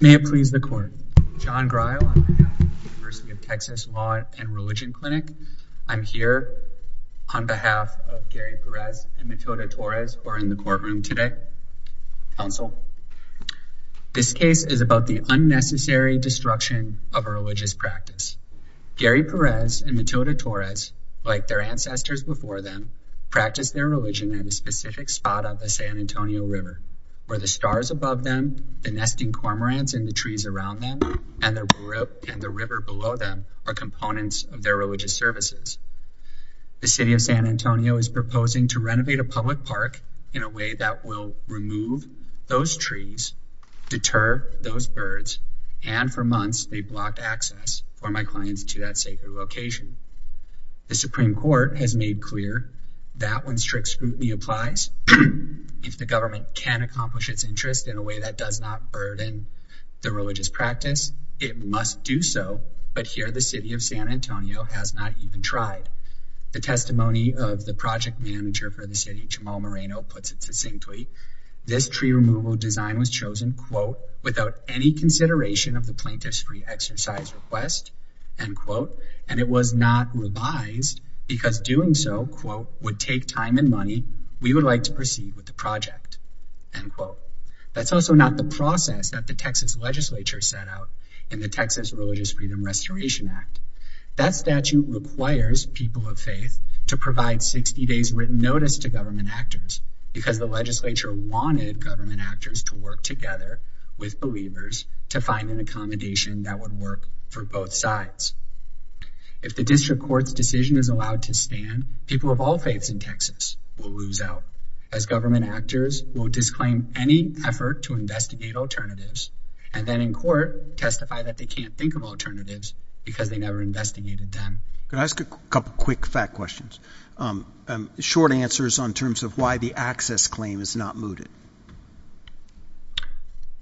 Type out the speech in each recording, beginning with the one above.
May it please the court. John Greil, University of Texas Law and Religion Clinic. I'm here on behalf of Gary Perez and Matilda Torres who are in the courtroom today. Counsel, this case is about the unnecessary destruction of a religious practice. Gary Perez and Matilda Torres, like their ancestors before them, practiced their religion at a specific spot on the San Antonio River, where the stars above them, the nesting cormorants in the trees around them, and the river below them are components of their religious services. The City of San Antonio is proposing to renovate a public park in a way that will remove those trees, deter those birds, and for months they blocked access for my clients to that sacred location. The Supreme Court has made clear that when strict scrutiny applies, if the government can accomplish its interest in a way that does not burden the religious practice, it must do so, but here the City of San Antonio has not even tried. The testimony of the project manager for the city, Jamal Moreno, puts it succinctly, this tree removal design was chosen, quote, without any consideration of the plaintiff's free exercise request, end quote, and it was not revised because doing so, quote, would take time and money we would like to proceed with the project, end quote. That's also not the process that the Texas legislature set out in the Texas Religious Freedom Restoration Act. That statute requires people of faith to provide 60 days written notice to government actors because the legislature wanted government actors to work together with believers to find an accommodation that would work for both sides. If the district court's decision is allowed to stand, people of all faiths in Texas will lose out as government actors will disclaim any effort to investigate alternatives and then in court testify that they can't think of alternatives because they never investigated them. Can I ask a couple quick fact questions? Short answers on terms of why the access claim is not mooted.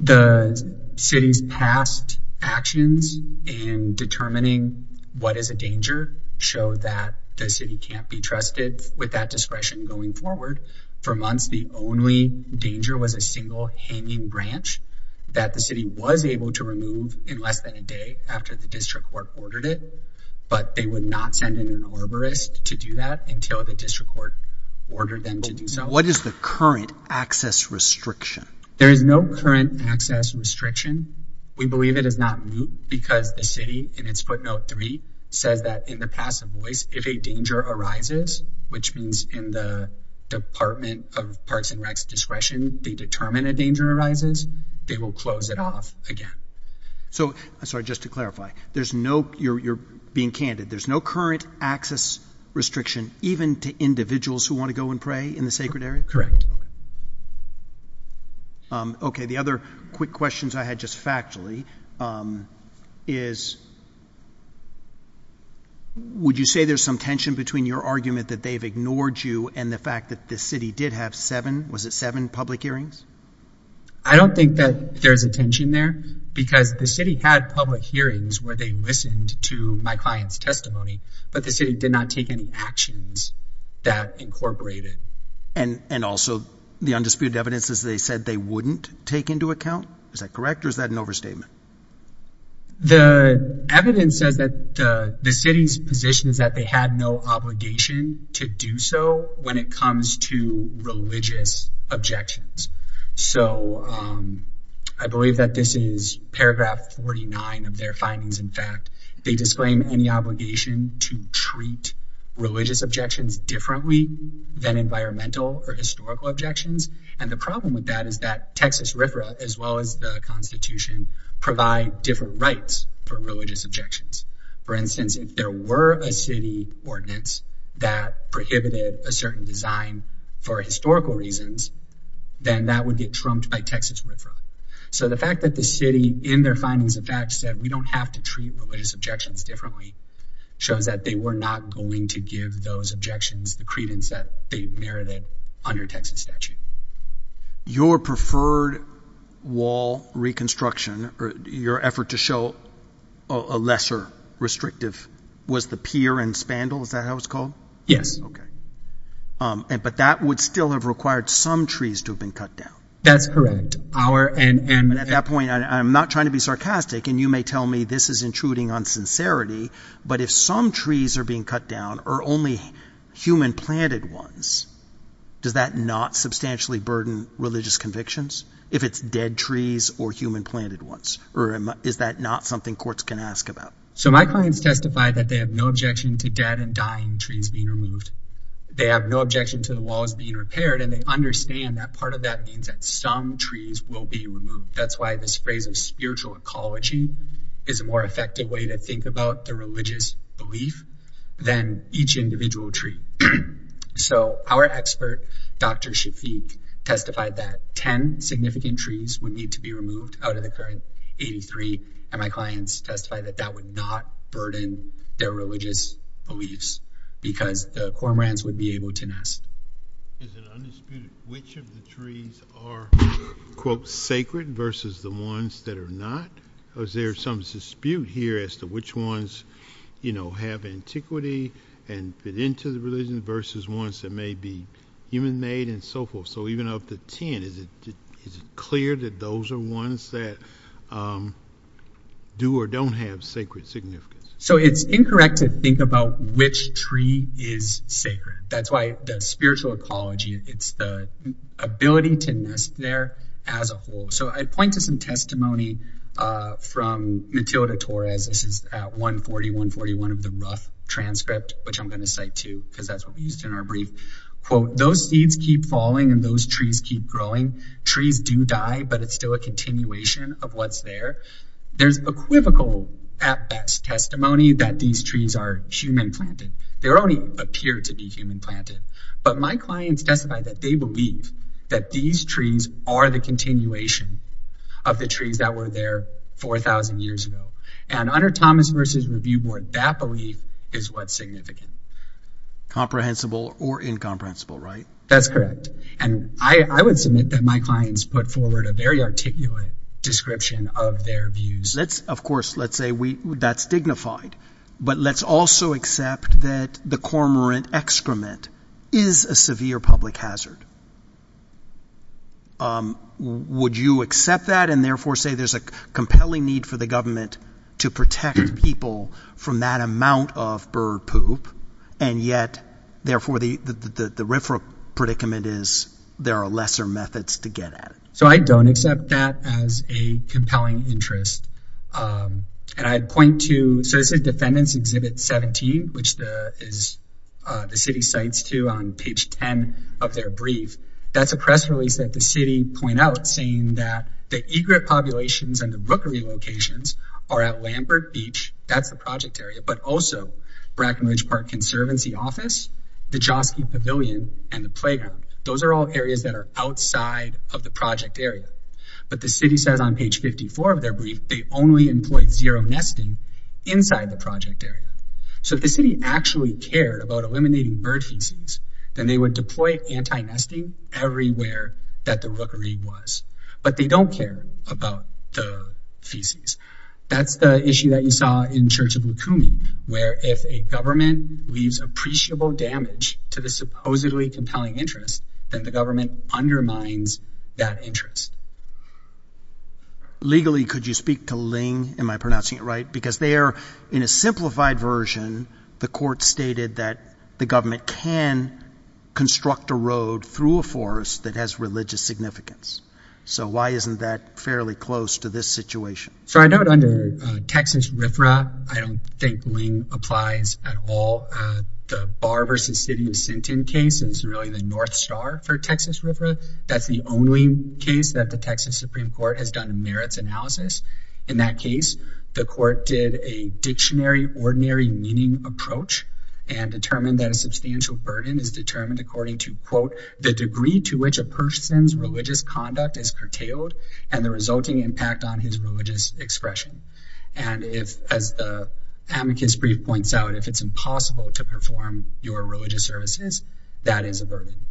The city's past actions in determining what is a danger show that the city can't be trusted with that discretion going forward. For months, the only danger was a single hanging branch that the city was able to remove in less than a day after the district court ordered it, but they would not send in an arborist to do that until the district court ordered them to do so. What is the current access restriction? There is no current access restriction. We believe it is not moot because the city, in its footnote three, says that in the passive voice, if a danger arises, which means in the Department of Parks and Rec's discretion, they determine a danger arises, they will close it off again. Sorry, just to clarify, you're being candid. There's no current access restriction even to individuals who want to go and pray in the sacred area? Correct. Okay, the other quick questions I had just factually is would you say there's some tension between your argument that they've ignored you and the fact that the city did have seven, was it seven, public hearings? I don't think that there's a tension there because the city had public hearings where they listened to my client's testimony, but the city did not take any actions that incorporated. And also the undisputed evidence is they said they wouldn't take into account? Is that correct or is that an overstatement? The evidence says that the city's position is that they had no obligation to do so when it comes to religious objections. So I believe that this is paragraph 49 of their findings. In fact, they disclaim any obligation to treat religious objections differently than environmental or historical objections. And the problem with that is that Texas RFRA, as well as the Constitution, provide different rights for religious objections. For instance, if there were a city ordinance that prohibited a certain design for historical reasons, then that would get trumped by Texas RFRA. So the fact that the city in their findings, in fact, said we don't have to treat religious objections differently shows that they were not going to give those objections the credence that they merited under Texas statute. Your preferred wall reconstruction or your effort to show a lesser restrictive was the pier and spandrel. Is that how it's called? Yes. But that would still have required some trees to have been cut down. That's correct. At that point, I'm not trying to be sarcastic. And you may tell me this is intruding on sincerity. But if some trees are being cut down or only human planted ones, does that not substantially burden religious convictions if it's dead trees or human planted ones? Or is that not something courts can ask about? So my clients testified that they have no objection to dead and dying trees being removed. They have no objection to the walls being repaired and they understand that part of that means that some trees will be removed. That's why this phrase of spiritual ecology is a more effective way to think about the religious belief than each individual tree. So our expert, Dr. Shafik, testified that 10 significant trees would need to be removed out of the current 83. And my clients testified that that would not burden their religious beliefs because the cormorants would be able to nest. Is it undisputed which of the trees are, quote, sacred versus the ones that are not? Is there some dispute here as to which ones, you know, have antiquity and fit into the religion versus ones that may be human made and so forth? So even up to 10, is it clear that those are ones that do or don't have sacred significance? So it's incorrect to think about which tree is sacred. That's why the spiritual ecology, it's the ability to nest there as a whole. So I'd point to some testimony from Matilda Torres. This is at 140.141 of the rough transcript, which I'm going to cite too because that's what we used in our brief. Quote, those seeds keep falling and those trees keep growing. Trees do die, but it's still a continuation of what's there. There's equivocal, at best, testimony that these trees are human planted. They only appear to be human planted. But my clients testified that they believe that these trees are the continuation of the trees that were there 4,000 years ago. And under Thomas vs. Review Board, that belief is what's significant. Comprehensible or incomprehensible, right? That's correct. And I would submit that my clients put forward a very articulate description of their views. Of course, let's say that's dignified. But let's also accept that the cormorant excrement is a severe public hazard. Would you accept that and therefore say there's a compelling need for the government to protect people from that amount of bird poop? And yet, therefore, the RIFRA predicament is there are lesser methods to get at it. So I don't accept that as a compelling interest. And I'd point to – so this is Defendants Exhibit 17, which the city cites, too, on page 10 of their brief. That's a press release that the city pointed out saying that the egret populations and the brookery locations are at Lambert Beach. That's the project area. But also Bracken Ridge Park Conservancy Office, the Joski Pavilion, and the playground. Those are all areas that are outside of the project area. But the city says on page 54 of their brief they only employed zero nesting inside the project area. So if the city actually cared about eliminating bird feces, then they would deploy anti-nesting everywhere that the brookery was. But they don't care about the feces. That's the issue that you saw in Church of Lukumi, where if a government leaves appreciable damage to the supposedly compelling interest, then the government undermines that interest. Legally, could you speak to Ling? Am I pronouncing it right? Because they are – in a simplified version, the court stated that the government can construct a road through a forest that has religious significance. So why isn't that fairly close to this situation? So I note under Texas RFRA, I don't think Ling applies at all. The Barr v. City of Sinton case is really the North Star for Texas RFRA. That's the only case that the Texas Supreme Court has done merits analysis. In that case, the court did a dictionary ordinary meaning approach and determined that a substantial burden is determined according to, quote, the degree to which a person's religious conduct is curtailed and the resulting impact on his religious expression. And if, as the amicus brief points out, if it's impossible to perform your religious services, that is a burden.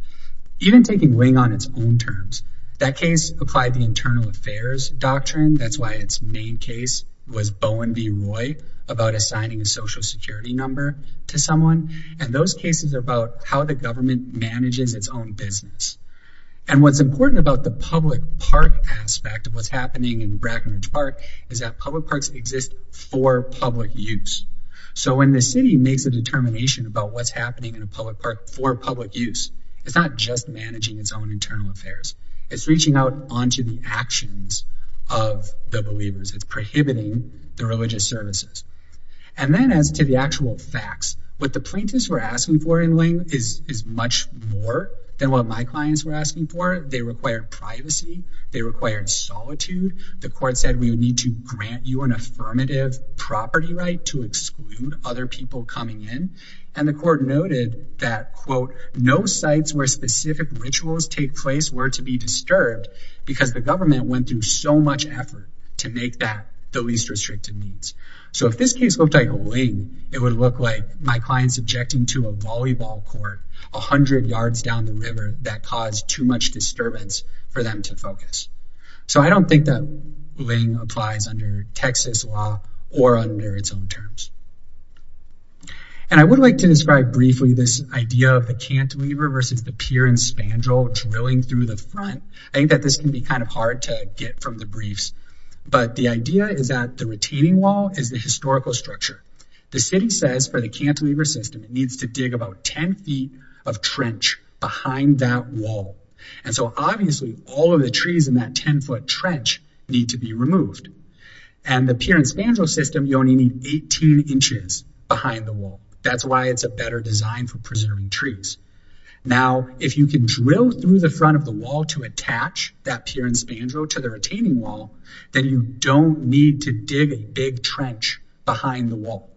Even taking Ling on its own terms, that case applied the internal affairs doctrine. That's why its main case was Bowen v. Roy about assigning a social security number to someone. And those cases are about how the government manages its own business. And what's important about the public park aspect of what's happening in Brackenridge Park is that public parks exist for public use. So when the city makes a determination about what's happening in a public park for public use, it's not just managing its own internal affairs. It's reaching out onto the actions of the believers. It's prohibiting the religious services. And then as to the actual facts, what the plaintiffs were asking for in Ling is much more than what my clients were asking for. They required privacy. They required solitude. The court said we would need to grant you an affirmative property right to exclude other people coming in. And the court noted that, quote, no sites where specific rituals take place were to be disturbed because the government went through so much effort to make that the least restricted means. So if this case looked like Ling, it would look like my clients objecting to a volleyball court a hundred yards down the river that caused too much disturbance for them to focus. So I don't think that Ling applies under Texas law or under its own terms. And I would like to describe briefly this idea of the cantilever versus the pier and spandrel drilling through the front. I think that this can be kind of hard to get from the briefs, but the idea is that the retaining wall is the historical structure. The city says for the cantilever system, it needs to dig about 10 feet of trench behind that wall. And so obviously all of the trees in that 10 foot trench need to be removed. And the pier and spandrel system, you only need 18 inches behind the wall. That's why it's a better design for preserving trees. Now, if you can drill through the front of the wall to attach that pier and spandrel to the retaining wall, then you don't need to dig a big trench behind the wall.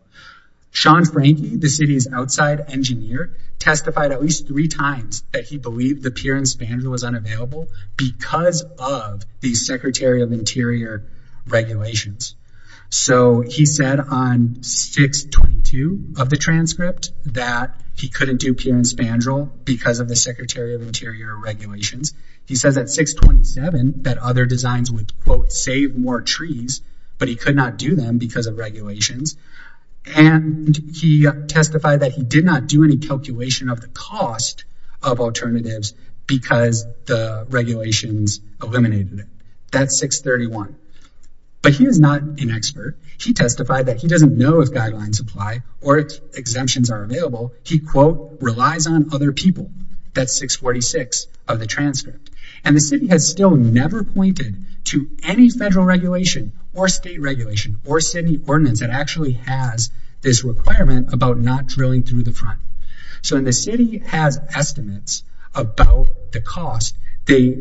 Sean Franke, the city's outside engineer, testified at least three times that he believed the pier and spandrel was unavailable because of the Secretary of Interior regulations. So he said on 622 of the transcript that he couldn't do pier and spandrel because of the Secretary of Interior regulations. He says at 627 that other designs would, quote, save more trees, but he could not do them because of regulations. And he testified that he did not do any calculation of the cost of alternatives because the regulations eliminated it. That's 631. But he is not an expert. He testified that he doesn't know if guidelines apply or if exemptions are available. He, quote, relies on other people. That's 646 of the transcript. And the city has still never pointed to any federal regulation or state regulation or city ordinance that actually has this requirement about not drilling through the front. So when the city has estimates about the cost, they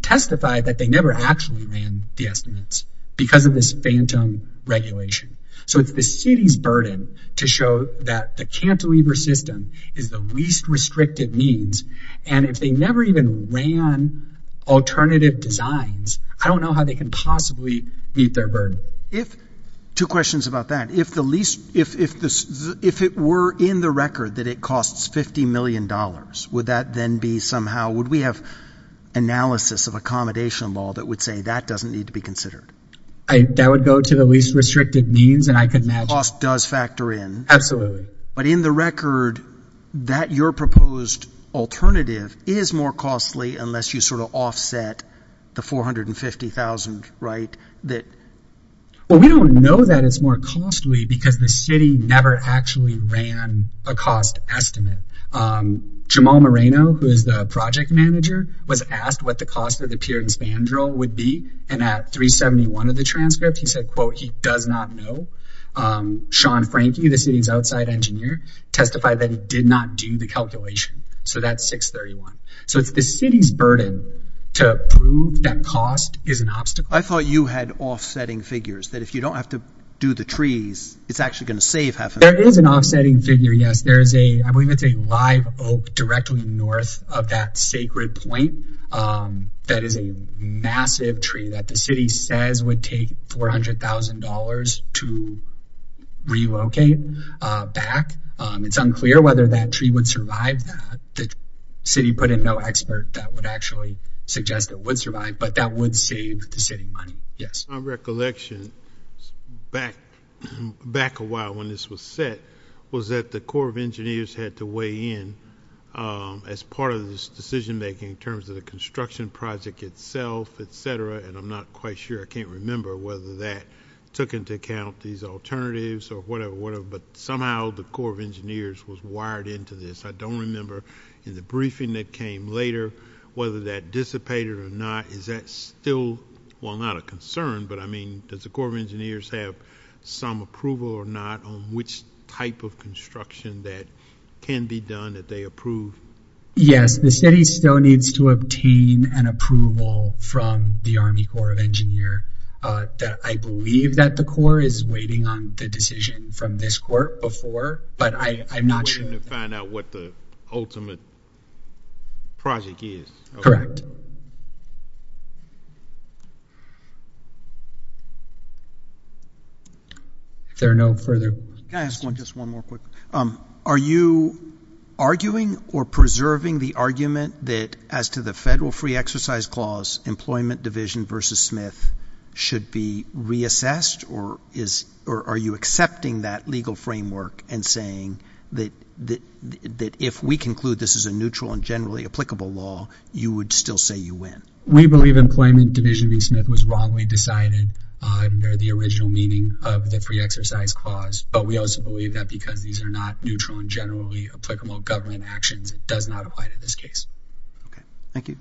testify that they never actually ran the estimates because of this phantom regulation. So it's the city's burden to show that the cantilever system is the least restrictive means. And if they never even ran alternative designs, I don't know how they can possibly meet their burden. Two questions about that. If it were in the record that it costs $50 million, would that then be somehow – would we have analysis of accommodation law that would say that doesn't need to be considered? That would go to the least restrictive means, and I can imagine. The cost does factor in. Absolutely. But in the record, that your proposed alternative is more costly unless you sort of offset the $450,000, right? Well, we don't know that it's more costly because the city never actually ran a cost estimate. Jamal Moreno, who is the project manager, was asked what the cost of the pier and span drill would be. And at 371 of the transcript, he said, quote, he does not know. Sean Franke, the city's outside engineer, testified that he did not do the calculation. So that's 631. So it's the city's burden to prove that cost is an obstacle. I thought you had offsetting figures that if you don't have to do the trees, it's actually going to save half a million. There is an offsetting figure, yes. I believe it's a live oak directly north of that sacred point. That is a massive tree that the city says would take $400,000 to relocate back. It's unclear whether that tree would survive that. The city put in no expert that would actually suggest it would survive, but that would save the city money. Yes. My recollection back a while when this was set was that the Corps of Engineers had to weigh in as part of this decision-making in terms of the construction project itself, et cetera, and I'm not quite sure. I can't remember whether that took into account these alternatives or whatever. But somehow the Corps of Engineers was wired into this. I don't remember in the briefing that came later whether that dissipated or not. Is that still not a concern? Does the Corps of Engineers have some approval or not on which type of construction that can be done that they approve? Yes. The city still needs to obtain an approval from the Army Corps of Engineers. I believe that the Corps is waiting on the decision from this court before, but I'm not sure. They're waiting to find out what the ultimate project is. Correct. Is there no further questions? Can I ask just one more quick? Are you arguing or preserving the argument that as to the federal free exercise clause, employment division versus Smith should be reassessed, or are you accepting that legal framework and saying that if we conclude this is a neutral and generally applicable law, you would still say you win? We believe employment division v. Smith was wrongly decided under the original meaning of the free exercise clause, but we also believe that because these are not neutral and generally applicable government actions, it does not apply to this case. Okay. Thank you.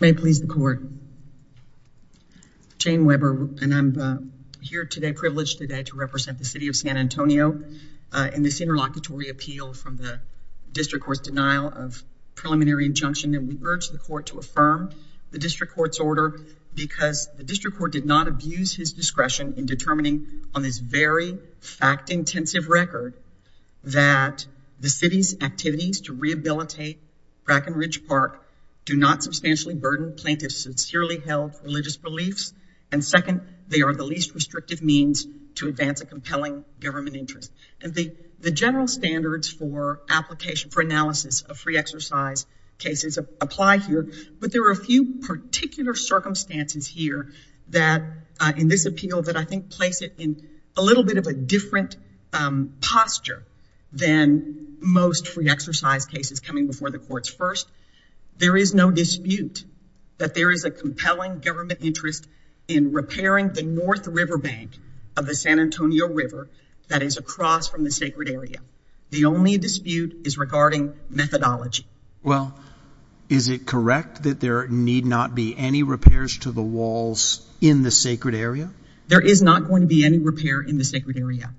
May it please the court. Jane Weber, and I'm here today, privileged today, to represent the city of San Antonio in this interlocutory appeal from the district court's denial of preliminary injunction, and we urge the court to affirm the district court's order because the district court did not abuse his discretion in determining on this very fact-intensive record that the city's activities to rehabilitate Bracken Ridge Park do not substantially burden plaintiffs' sincerely held religious beliefs, and second, they are the least restrictive means to advance a compelling government interest. The general standards for application for analysis of free exercise cases apply here, but there are a few particular circumstances here that in this appeal that I think place it in a little bit of a different posture than most free exercise cases coming before the courts. First, there is no dispute that there is a compelling government interest in repairing the North River Bank of the San Antonio River that is across from the sacred area. The only dispute is regarding methodology. Well, is it correct that there need not be any repairs to the walls in the sacred area? There is not going to be any repair in the sacred area.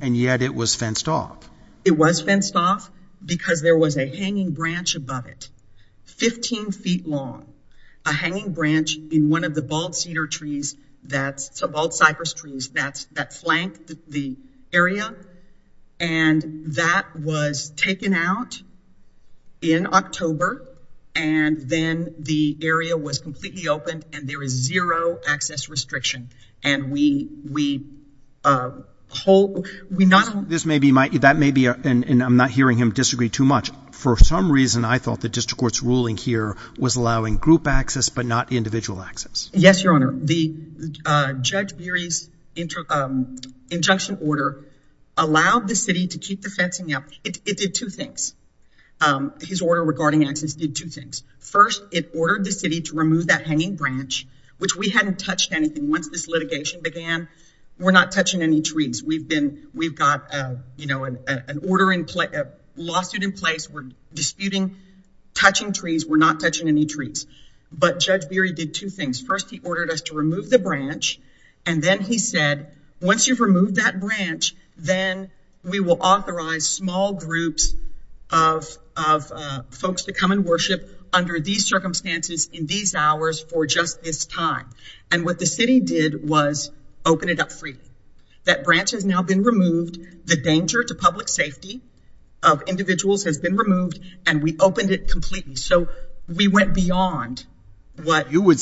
And yet it was fenced off. It was fenced off because there was a hanging branch above it, 15 feet long, a hanging branch in one of the bald cedar trees, the bald cypress trees that flank the area, and that was taken out in October, and then the area was completely opened, and there is zero access restriction. That may be, and I'm not hearing him disagree too much, for some reason I thought the district court's ruling here was allowing group access but not individual access. Yes, Your Honor. Judge Beery's injunction order allowed the city to keep the fencing up. It did two things. His order regarding access did two things. First, it ordered the city to remove that hanging branch, which we hadn't touched anything once this litigation began. We're not touching any trees. We've got a lawsuit in place. We're disputing touching trees. We're not touching any trees. But Judge Beery did two things. First, he ordered us to remove the branch, and then he said, once you've removed that branch, then we will authorize small groups of folks to come and worship under these circumstances in these hours for just this time. And what the city did was open it up freely. That branch has now been removed. The danger to public safety of individuals has been removed, and we opened it completely. So we went beyond what… Wholly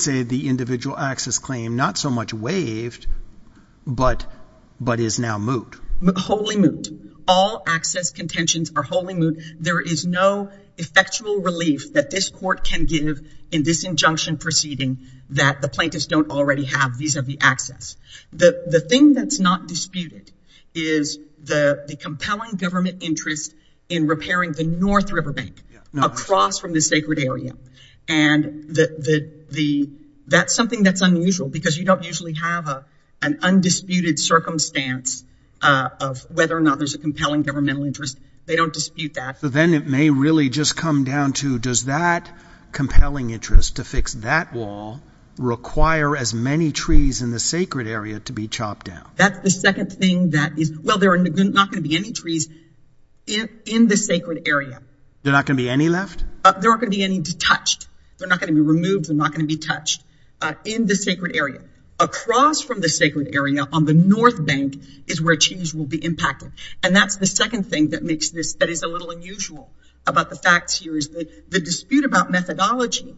moot. All access contentions are wholly moot. There is no effectual relief that this court can give in this injunction proceeding that the plaintiffs don't already have vis-a-vis access. The thing that's not disputed is the compelling government interest in repairing the North River Bank across from the sacred area. And that's something that's unusual, because you don't usually have an undisputed circumstance of whether or not there's a compelling governmental interest. They don't dispute that. But then it may really just come down to, does that compelling interest to fix that wall require as many trees in the sacred area to be chopped down? That's the second thing that is… Well, there are not going to be any trees in the sacred area. There are not going to be any left? There aren't going to be any detached. They're not going to be removed. They're not going to be touched in the sacred area. Across from the sacred area on the North Bank is where trees will be impacted. And that's the second thing that makes this… that is a little unusual about the facts here is the dispute about methodology.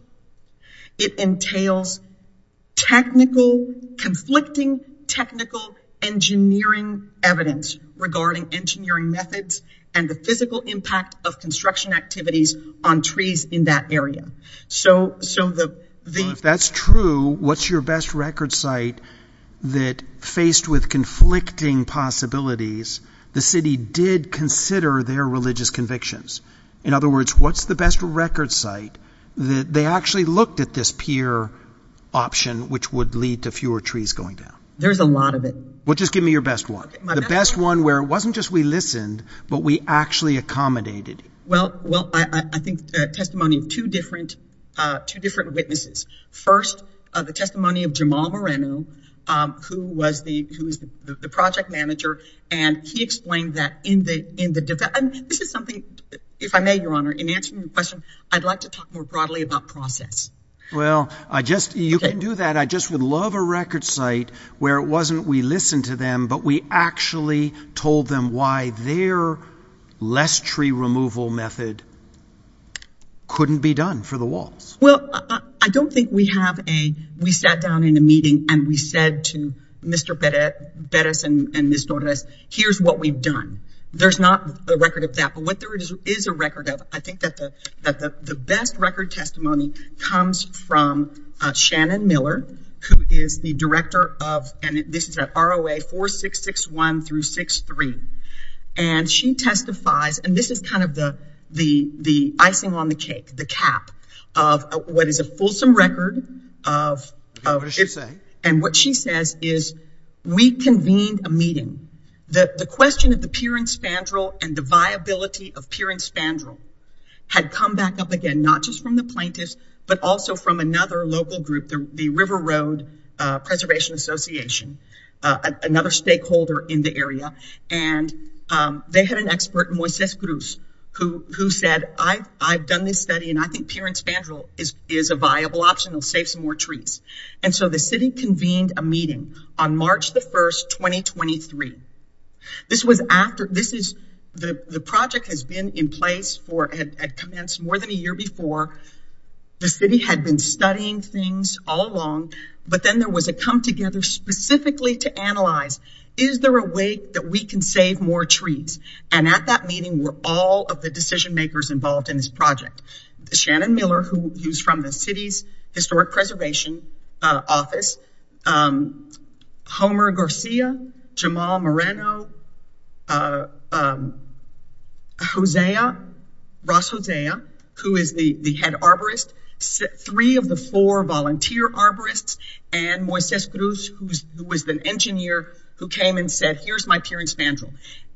It entails technical, conflicting technical engineering evidence regarding engineering methods and the physical impact of construction activities on trees in that area. So the… If that's true, what's your best record site that, faced with conflicting possibilities, the city did consider their religious convictions? In other words, what's the best record site that they actually looked at this pier option, which would lead to fewer trees going down? There's a lot of it. Well, just give me your best one. The best one where it wasn't just we listened, but we actually accommodated. Well, I think testimony of two different witnesses. First, the testimony of Jamal Moreno, who was the project manager, and he explained that in the… This is something, if I may, Your Honor, in answering your question, I'd like to talk more broadly about process. Well, I just… you can do that. I just would love a record site where it wasn't we listened to them, but we actually told them why their less tree removal method couldn't be done for the walls. Well, I don't think we have a… we sat down in a meeting and we said to Mr. Perez and Ms. Torres, here's what we've done. There's not a record of that, but what there is a record of, I think that the best record testimony comes from Shannon Miller, who is the director of… and this is at ROA 4661 through 63. And she testifies, and this is kind of the icing on the cake, the cap, of what is a fulsome record of… What does she say? And what she says is, we convened a meeting. The question of the pier and spandrel and the viability of pier and spandrel had come back up again, not just from the plaintiffs, but also from another local group, the River Road Preservation Association, another stakeholder in the area. And they had an expert, Moises Cruz, who said, I've done this study and I think pier and spandrel is a viable option. It'll save some more trees. And so the city convened a meeting on March the 1st, 2023. This was after… this is… the project has been in place for… had commenced more than a year before. The city had been studying things all along, but then there was a come together specifically to analyze, is there a way that we can save more trees? And at that meeting were all of the decision makers involved in this project. Shannon Miller, who was from the city's Historic Preservation Office, Homer Garcia, Jamal Moreno, Ross Hosea, who is the head arborist, three of the four volunteer arborists, and Moises Cruz, who was the engineer, who came and said, here's my pier and spandrel.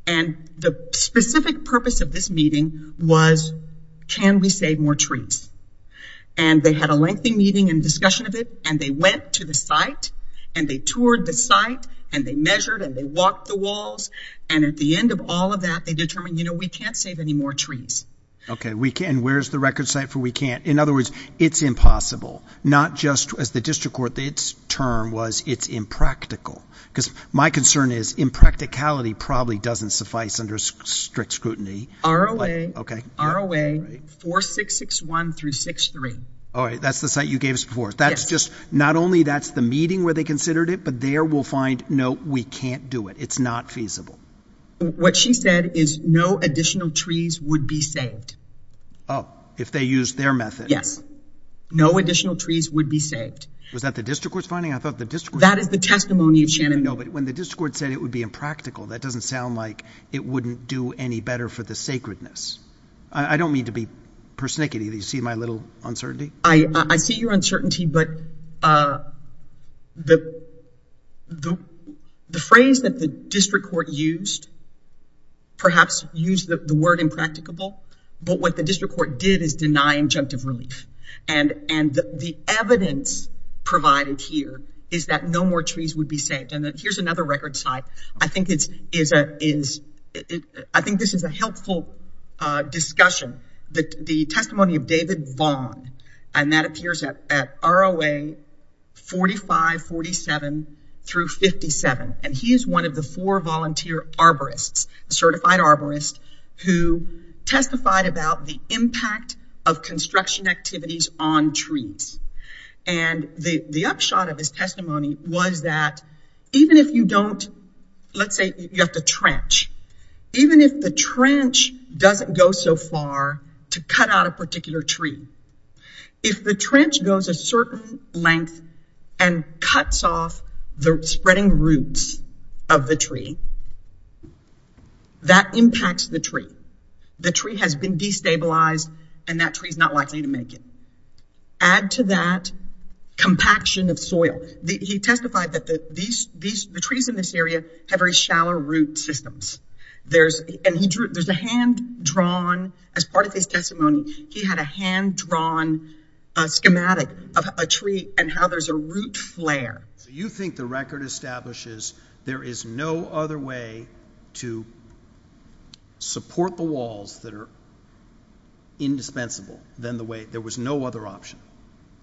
And the specific purpose of this meeting was, can we save more trees? And they had a lengthy meeting and discussion of it. And they went to the site and they toured the site and they measured and they walked the walls. And at the end of all of that, they determined, you know, we can't save any more trees. Okay, and where's the record site for we can't? In other words, it's impossible. Not just as the district court, its term was it's impractical. Because my concern is impracticality probably doesn't suffice under strict scrutiny. ROA. Okay. ROA 4661 through 63. All right, that's the site you gave us before. Yes. That's just, not only that's the meeting where they considered it, but there we'll find, no, we can't do it. It's not feasible. What she said is no additional trees would be saved. Oh, if they used their method. Yes. No additional trees would be saved. Was that the district court's finding? I thought the district court's finding. That is the testimony of Shannon. No, but when the district court said it would be impractical, that doesn't sound like it wouldn't do any better for the sacredness. I don't mean to be persnickety. Do you see my little uncertainty? I see your uncertainty, but the phrase that the district court used perhaps used the word impracticable. But what the district court did is deny injunctive relief. And the evidence provided here is that no more trees would be saved. And here's another record site. I think this is a helpful discussion. The testimony of David Vaughn, and that appears at ROA 4547 through 57. And he is one of the four volunteer arborists, certified arborist, who testified about the impact of construction activities on trees. And the upshot of his testimony was that even if you don't, let's say you have to trench, even if the trench doesn't go so far to cut out a particular tree, if the trench goes a certain length and cuts off the spreading roots of the tree, that impacts the tree. The tree has been destabilized, and that tree is not likely to make it. Add to that compaction of soil. He testified that the trees in this area have very shallow root systems. And there's a hand-drawn, as part of his testimony, he had a hand-drawn schematic of a tree and how there's a root flare. So you think the record establishes there is no other way to support the walls that are indispensable than the way, there was no other option?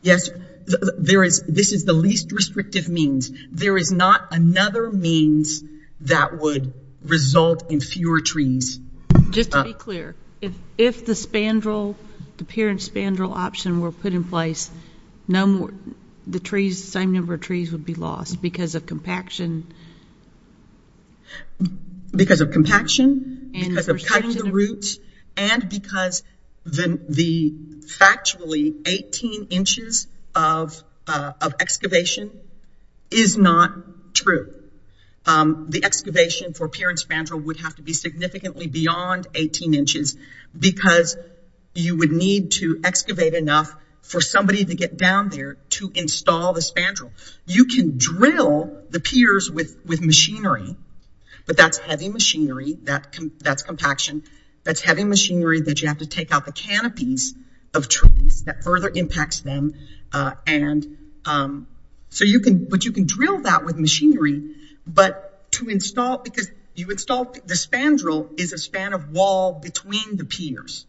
Yes. This is the least restrictive means. There is not another means that would result in fewer trees. Just to be clear, if the pier and spandrel option were put in place, the same number of trees would be lost because of compaction? Because of compaction, because of cutting the roots, and because the factually 18 inches of excavation is not true. The excavation for pier and spandrel would have to be significantly beyond 18 inches, because you would need to excavate enough for somebody to get down there to install the spandrel. You can drill the piers with machinery, but that's heavy machinery, that's compaction. That's heavy machinery that you have to take out the canopies of trees that further impacts them. And so you can, but you can drill that with machinery, but to install, because you install the spandrel is a span of wall between the piers.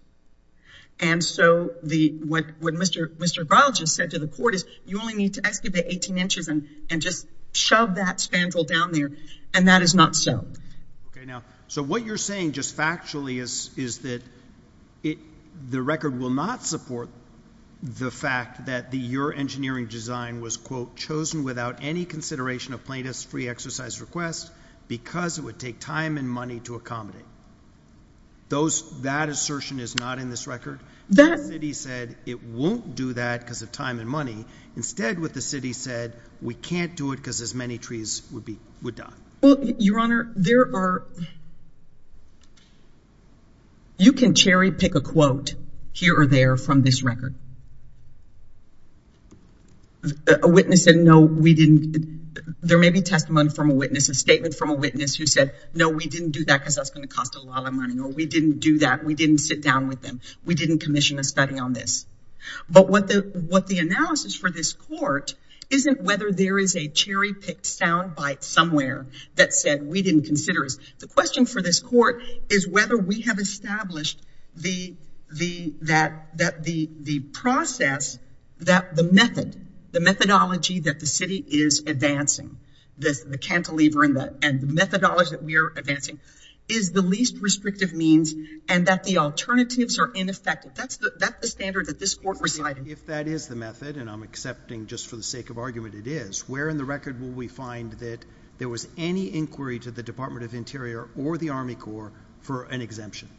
And so what Mr. Groucho said to the court is, you only need to excavate 18 inches and just shove that spandrel down there, and that is not so. Okay, now, so what you're saying just factually is that the record will not support the fact that your engineering design was, quote, chosen without any consideration of plaintiff's free exercise request because it would take time and money to accommodate. That assertion is not in this record? The city said it won't do that because of time and money. Instead, what the city said, we can't do it because as many trees would die. Well, Your Honor, there are – you can cherry pick a quote here or there from this record. A witness said, no, we didn't – there may be testimony from a witness, a statement from a witness who said, no, we didn't do that because that's going to cost a lot of money, or we didn't do that. We didn't sit down with them. We didn't commission a study on this. But what the analysis for this court isn't whether there is a cherry-picked soundbite somewhere that said we didn't consider it. The question for this court is whether we have established the process, the method, the methodology that the city is advancing, the cantilever and the methodology that we are advancing is the least restrictive means and that the alternatives are ineffective. That's the standard that this court presided. If that is the method, and I'm accepting just for the sake of argument it is, where in the record will we find that there was any inquiry to the Department of Interior or the Army Corps for an exemption?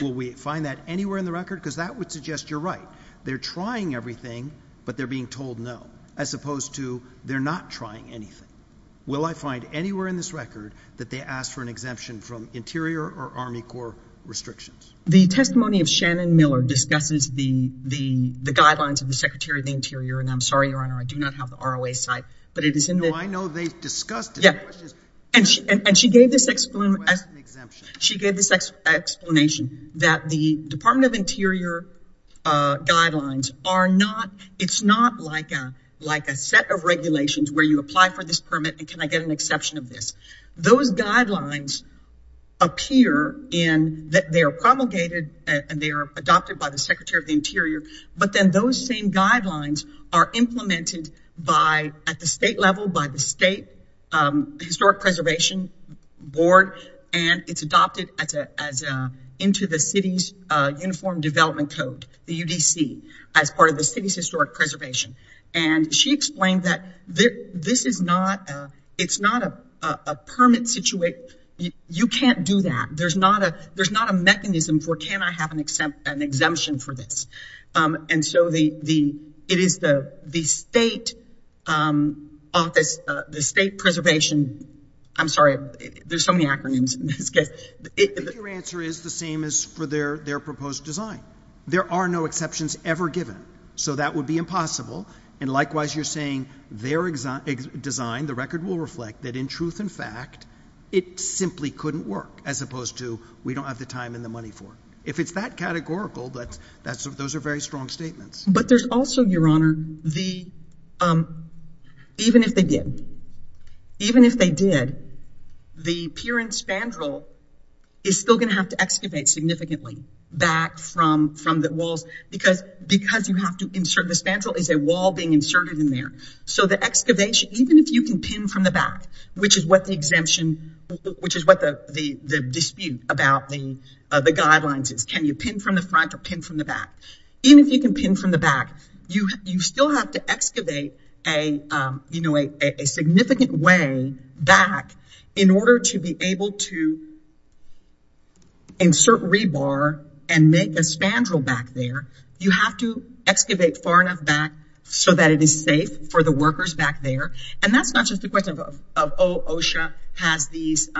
Will we find that anywhere in the record? Because that would suggest you're right. They're trying everything, but they're being told no, as opposed to they're not trying anything. Will I find anywhere in this record that they asked for an exemption from Interior or Army Corps restrictions? The testimony of Shannon Miller discusses the guidelines of the Secretary of the Interior. And I'm sorry, Your Honor, I do not have the ROA site, but it is in the ‑‑ No, I know they discussed it. And she gave this explanation that the Department of Interior guidelines are not, it's not like a set of regulations where you apply for this permit and can I get an exception of this. Those guidelines appear in that they are promulgated and they are adopted by the Secretary of the Interior, but then those same guidelines are implemented by, at the state level, by the State Historic Preservation Board and it's adopted into the city's Uniform Development Code, the UDC, as part of the city's historic preservation. And she explained that this is not, it's not a permit, you can't do that. There's not a mechanism for can I have an exemption for this. And so it is the state office, the state preservation, I'm sorry, there's so many acronyms in this case. I think your answer is the same as for their proposed design. There are no exceptions ever given, so that would be impossible. And likewise, you're saying their design, the record will reflect that in truth and fact, it simply couldn't work as opposed to we don't have the time and the money for it. If it's that categorical, those are very strong statements. But there's also, Your Honor, even if they did, even if they did, the pier and spandrel is still going to have to excavate significantly back from the walls because you have to insert, the spandrel is a wall being inserted in there. So the excavation, even if you can pin from the back, which is what the exemption, which is what the dispute about the guidelines is. Can you pin from the front or pin from the back? Even if you can pin from the back, you still have to excavate a significant way back in order to be able to insert rebar and make a spandrel back there. You have to excavate far enough back so that it is safe for the workers back there. And that's not just a question of, oh, OSHA has these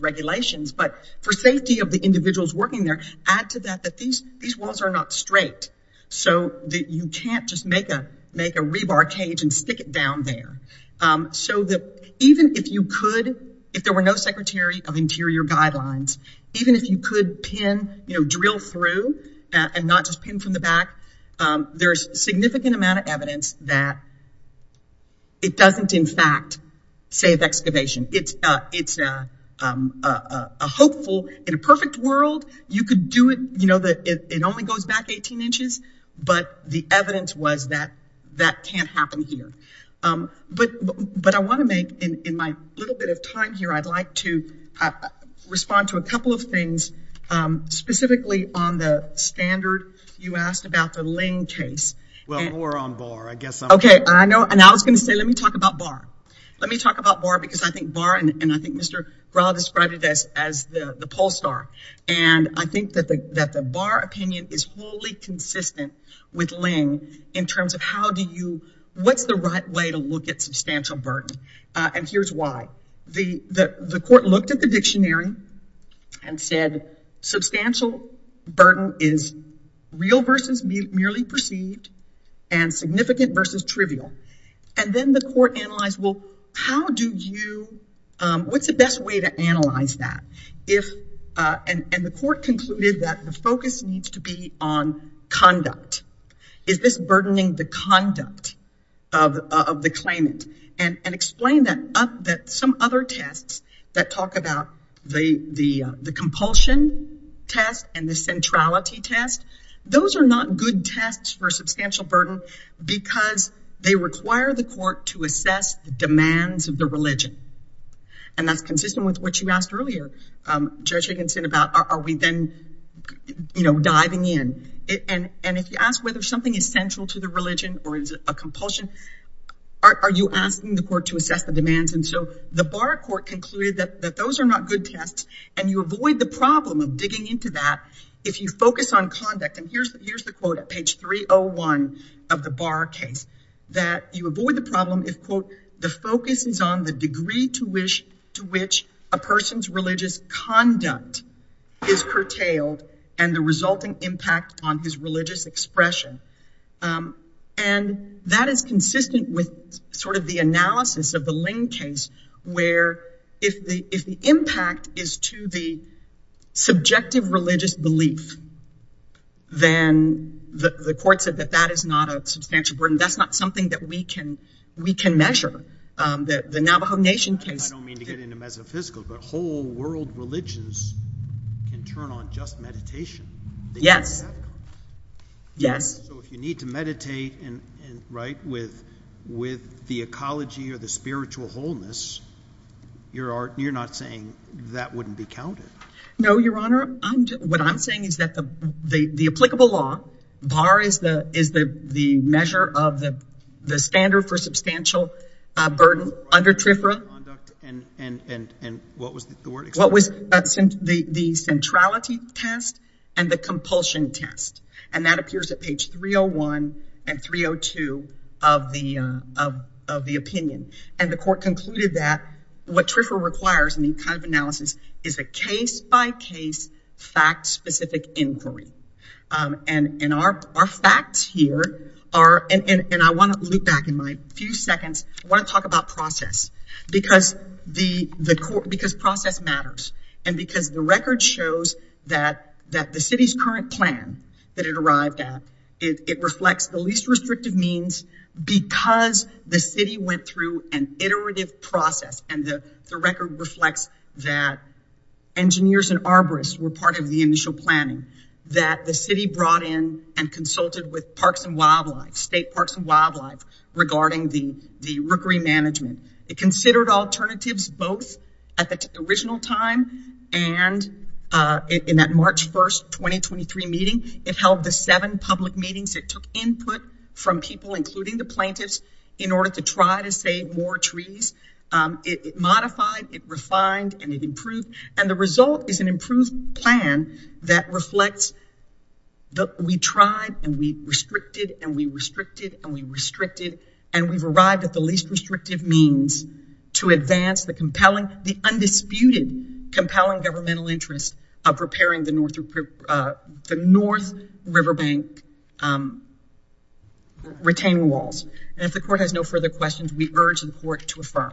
regulations, but for safety of the individuals working there, add to that that these walls are not straight. So you can't just make a rebar cage and stick it down there. So that even if you could, if there were no Secretary of Interior guidelines, even if you could drill through and not just pin from the back, there's significant amount of evidence that it doesn't, in fact, save excavation. It's a hopeful, in a perfect world, you could do it. It only goes back 18 inches, but the evidence was that that can't happen here. But I want to make, in my little bit of time here, I'd like to respond to a couple of things, specifically on the standard you asked about the Ling case. Well, more on Barr, I guess. Okay, and I was going to say, let me talk about Barr. Let me talk about Barr because I think Barr, and I think Mr. Grahl described it as the poll star, and I think that the Barr opinion is wholly consistent with Ling in terms of how do you, what's the right way to look at substantial burden? And here's why. The court looked at the dictionary and said, substantial burden is real versus merely perceived and significant versus trivial. And then the court analyzed, well, how do you, what's the best way to analyze that? And the court concluded that the focus needs to be on conduct. Is this burdening the conduct of the claimant? And explain that some other tests that talk about the compulsion test and the centrality test, those are not good tests for substantial burden because they require the court to assess the demands of the religion. And that's consistent with what you asked earlier, Judge Higginson, about are we then diving in? And if you ask whether something is central to the religion or is it a compulsion, are you asking the court to assess the demands? And so the Barr court concluded that those are not good tests, and you avoid the problem of digging into that if you focus on conduct. And here's the quote at page 301 of the Barr case, that you avoid the problem if, quote, the focus is on the degree to which a person's religious conduct is curtailed and the resulting impact on his religious expression. And that is consistent with sort of the analysis of the Ling case, where if the impact is to the subjective religious belief, then the court said that that is not a substantial burden. That's not something that we can measure. The Navajo Nation case. I don't mean to get into metaphysical, but whole world religions can turn on just meditation. Yes. Yes. So if you need to meditate, right, with the ecology or the spiritual wholeness, you're not saying that wouldn't be counted? No, Your Honor. What I'm saying is that the applicable law, Barr is the measure of the standard for substantial burden under TRIFRA. And what was the word? The centrality test and the compulsion test. And that appears at page 301 and 302 of the opinion. And the court concluded that what TRIFRA requires in the kind of analysis is a case-by-case, fact-specific inquiry. And our facts here are, and I want to loop back in my few seconds, I want to talk about process. Because process matters. And because the record shows that the city's current plan that it arrived at, it reflects the least restrictive means because the city went through an iterative process. And the record reflects that engineers and arborists were part of the initial planning. That the city brought in and consulted with Parks and Wildlife, State Parks and Wildlife, regarding the rookery management. It considered alternatives both at the original time and in that March 1st, 2023 meeting. It held the seven public meetings. It took input from people, including the plaintiffs, in order to try to save more trees. It modified, it refined, and it improved. And the result is an improved plan that reflects that we tried and we restricted and we restricted and we restricted. And we've arrived at the least restrictive means to advance the compelling, the undisputed compelling governmental interest of repairing the North Riverbank retaining walls. And if the court has no further questions, we urge the court to affirm.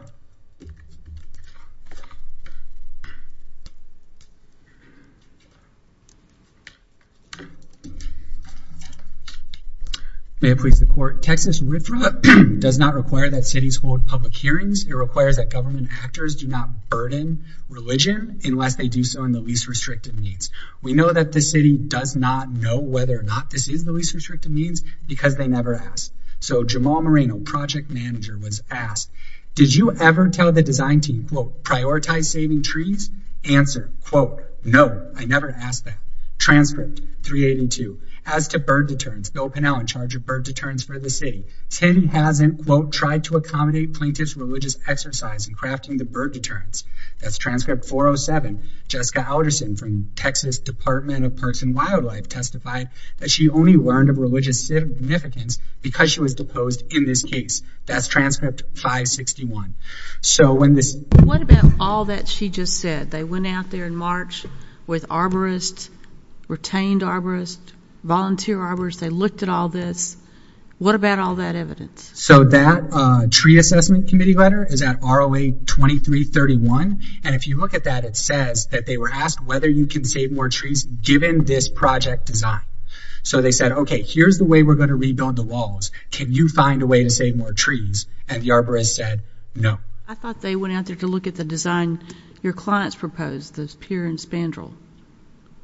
May it please the court. Texas River does not require that cities hold public hearings. It requires that government actors do not burden religion unless they do so in the least restrictive means. We know that the city does not know whether or not this is the least restrictive means because they never asked. So Jamal Moreno, project manager, was asked, Did you ever tell the design team, quote, prioritize saving trees? Answer, quote, no, I never asked that. Transcript 382. As to bird deterrence, Bill Pinnell in charge of bird deterrence for the city. Tin hasn't, quote, tried to accommodate plaintiff's religious exercise in crafting the bird deterrence. That's transcript 407. Jessica Alderson from Texas Department of Parks and Wildlife testified that she only learned of religious significance because she was deposed in this case. That's transcript 561. So when this... What about all that she just said? They went out there in March with arborists, retained arborists, volunteer arborists. They looked at all this. What about all that evidence? So that tree assessment committee letter is at ROA 2331. And if you look at that, it says that they were asked whether you can save more trees given this project design. So they said, OK, here's the way we're going to rebuild the walls. Can you find a way to save more trees? And the arborist said no. I thought they went out there to look at the design your clients proposed, the pier and spandrel.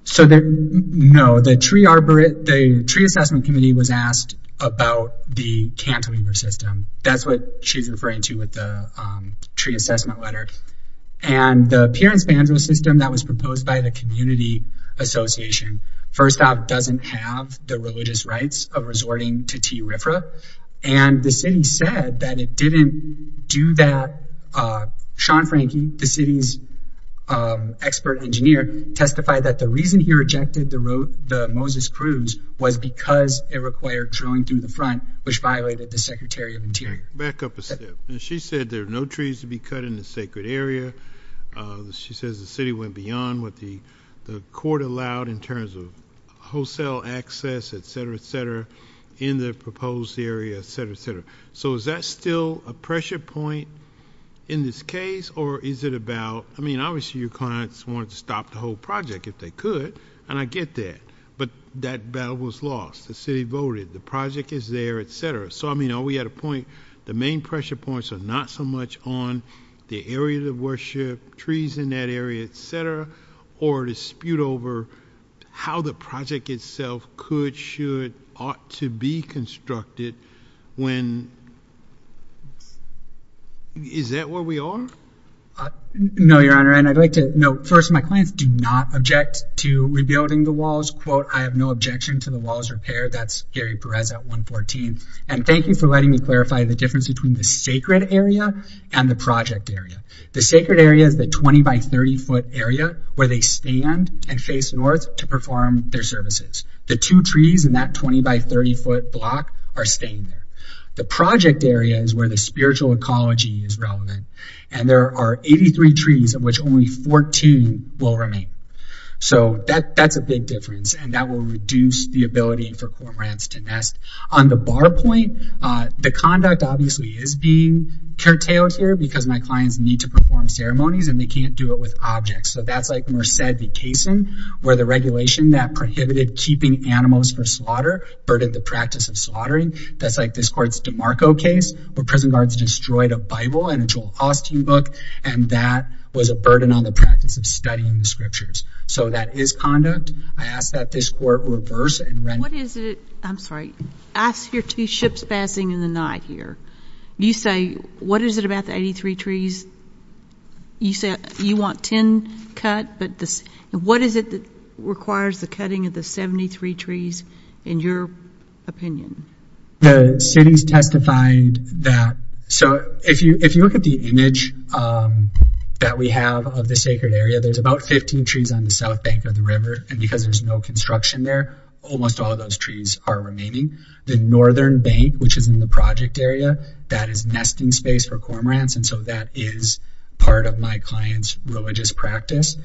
So no, the tree assessment committee was asked about the cantilever system. That's what she's referring to with the tree assessment letter. And the pier and spandrel system that was proposed by the community association, First Stop doesn't have the religious rights of resorting to T. Sean Frankie, the city's expert engineer, testified that the reason he rejected the Moses Cruz was because it required drilling through the front, which violated the Secretary of Interior. Back up a step. She said there are no trees to be cut in the sacred area. She says the city went beyond what the court allowed in terms of wholesale access, et cetera, et cetera, in the proposed area, et cetera, et cetera. So is that still a pressure point in this case? Or is it about, I mean, obviously your clients wanted to stop the whole project if they could. And I get that. But that battle was lost. The city voted. The project is there, et cetera. So, I mean, are we at a point, the main pressure points are not so much on the area of worship, trees in that area, et cetera, or dispute over how the project itself could, should, ought to be constructed when, is that where we are? No, Your Honor. And I'd like to note, first, my clients do not object to rebuilding the walls. Quote, I have no objection to the walls repaired. That's Gary Perez at 114. And thank you for letting me clarify the difference between the sacred area and the project area. The sacred area is the 20-by-30-foot area where they stand and face north to perform their services. The two trees in that 20-by-30-foot block are staying there. The project area is where the spiritual ecology is relevant. And there are 83 trees of which only 14 will remain. So, that's a big difference. And that will reduce the ability for cormorants to nest. On the bar point, the conduct, obviously, is being curtailed here because my clients need to perform ceremonies and they can't do it with objects. So, that's like Merced v. Cason, where the regulation that prohibited keeping animals for slaughter burdened the practice of slaughtering. That's like this court's DeMarco case, where prison guards destroyed a Bible and a Joel Austen book. And that was a burden on the practice of studying the scriptures. So, that is conduct. I ask that this court reverse and— What is it—I'm sorry. Ask your two ships passing in the night here. You say, what is it about the 83 trees? You want 10 cut, but what is it that requires the cutting of the 73 trees, in your opinion? The cities testified that— So, if you look at the image that we have of the sacred area, there's about 15 trees on the south bank of the river. And because there's no construction there, almost all of those trees are remaining. The northern bank, which is in the project area, that is nesting space for cormorants. And so, that is part of my client's religious practice.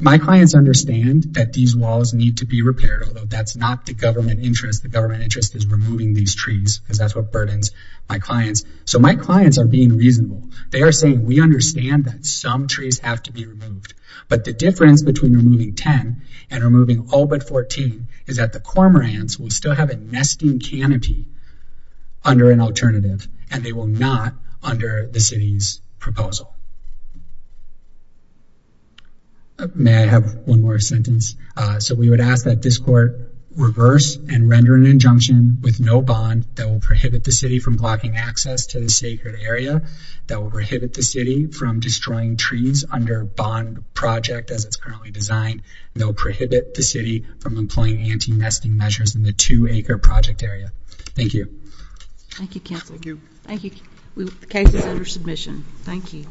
My clients understand that these walls need to be repaired, although that's not the government interest. The government interest is removing these trees, because that's what burdens my clients. So, my clients are being reasonable. They are saying, we understand that some trees have to be removed. But the difference between removing 10 and removing all but 14, is that the cormorants will still have a nesting canopy under an alternative, and they will not under the city's proposal. May I have one more sentence? So, we would ask that this court reverse and render an injunction with no bond that will prohibit the city from blocking access to the sacred area, that will prohibit the city from destroying trees under bond project as it's currently designed, and that will prohibit the city from employing anti-nesting measures in the two-acre project area. Thank you. Thank you, counsel. Thank you. The case is under submission. Thank you.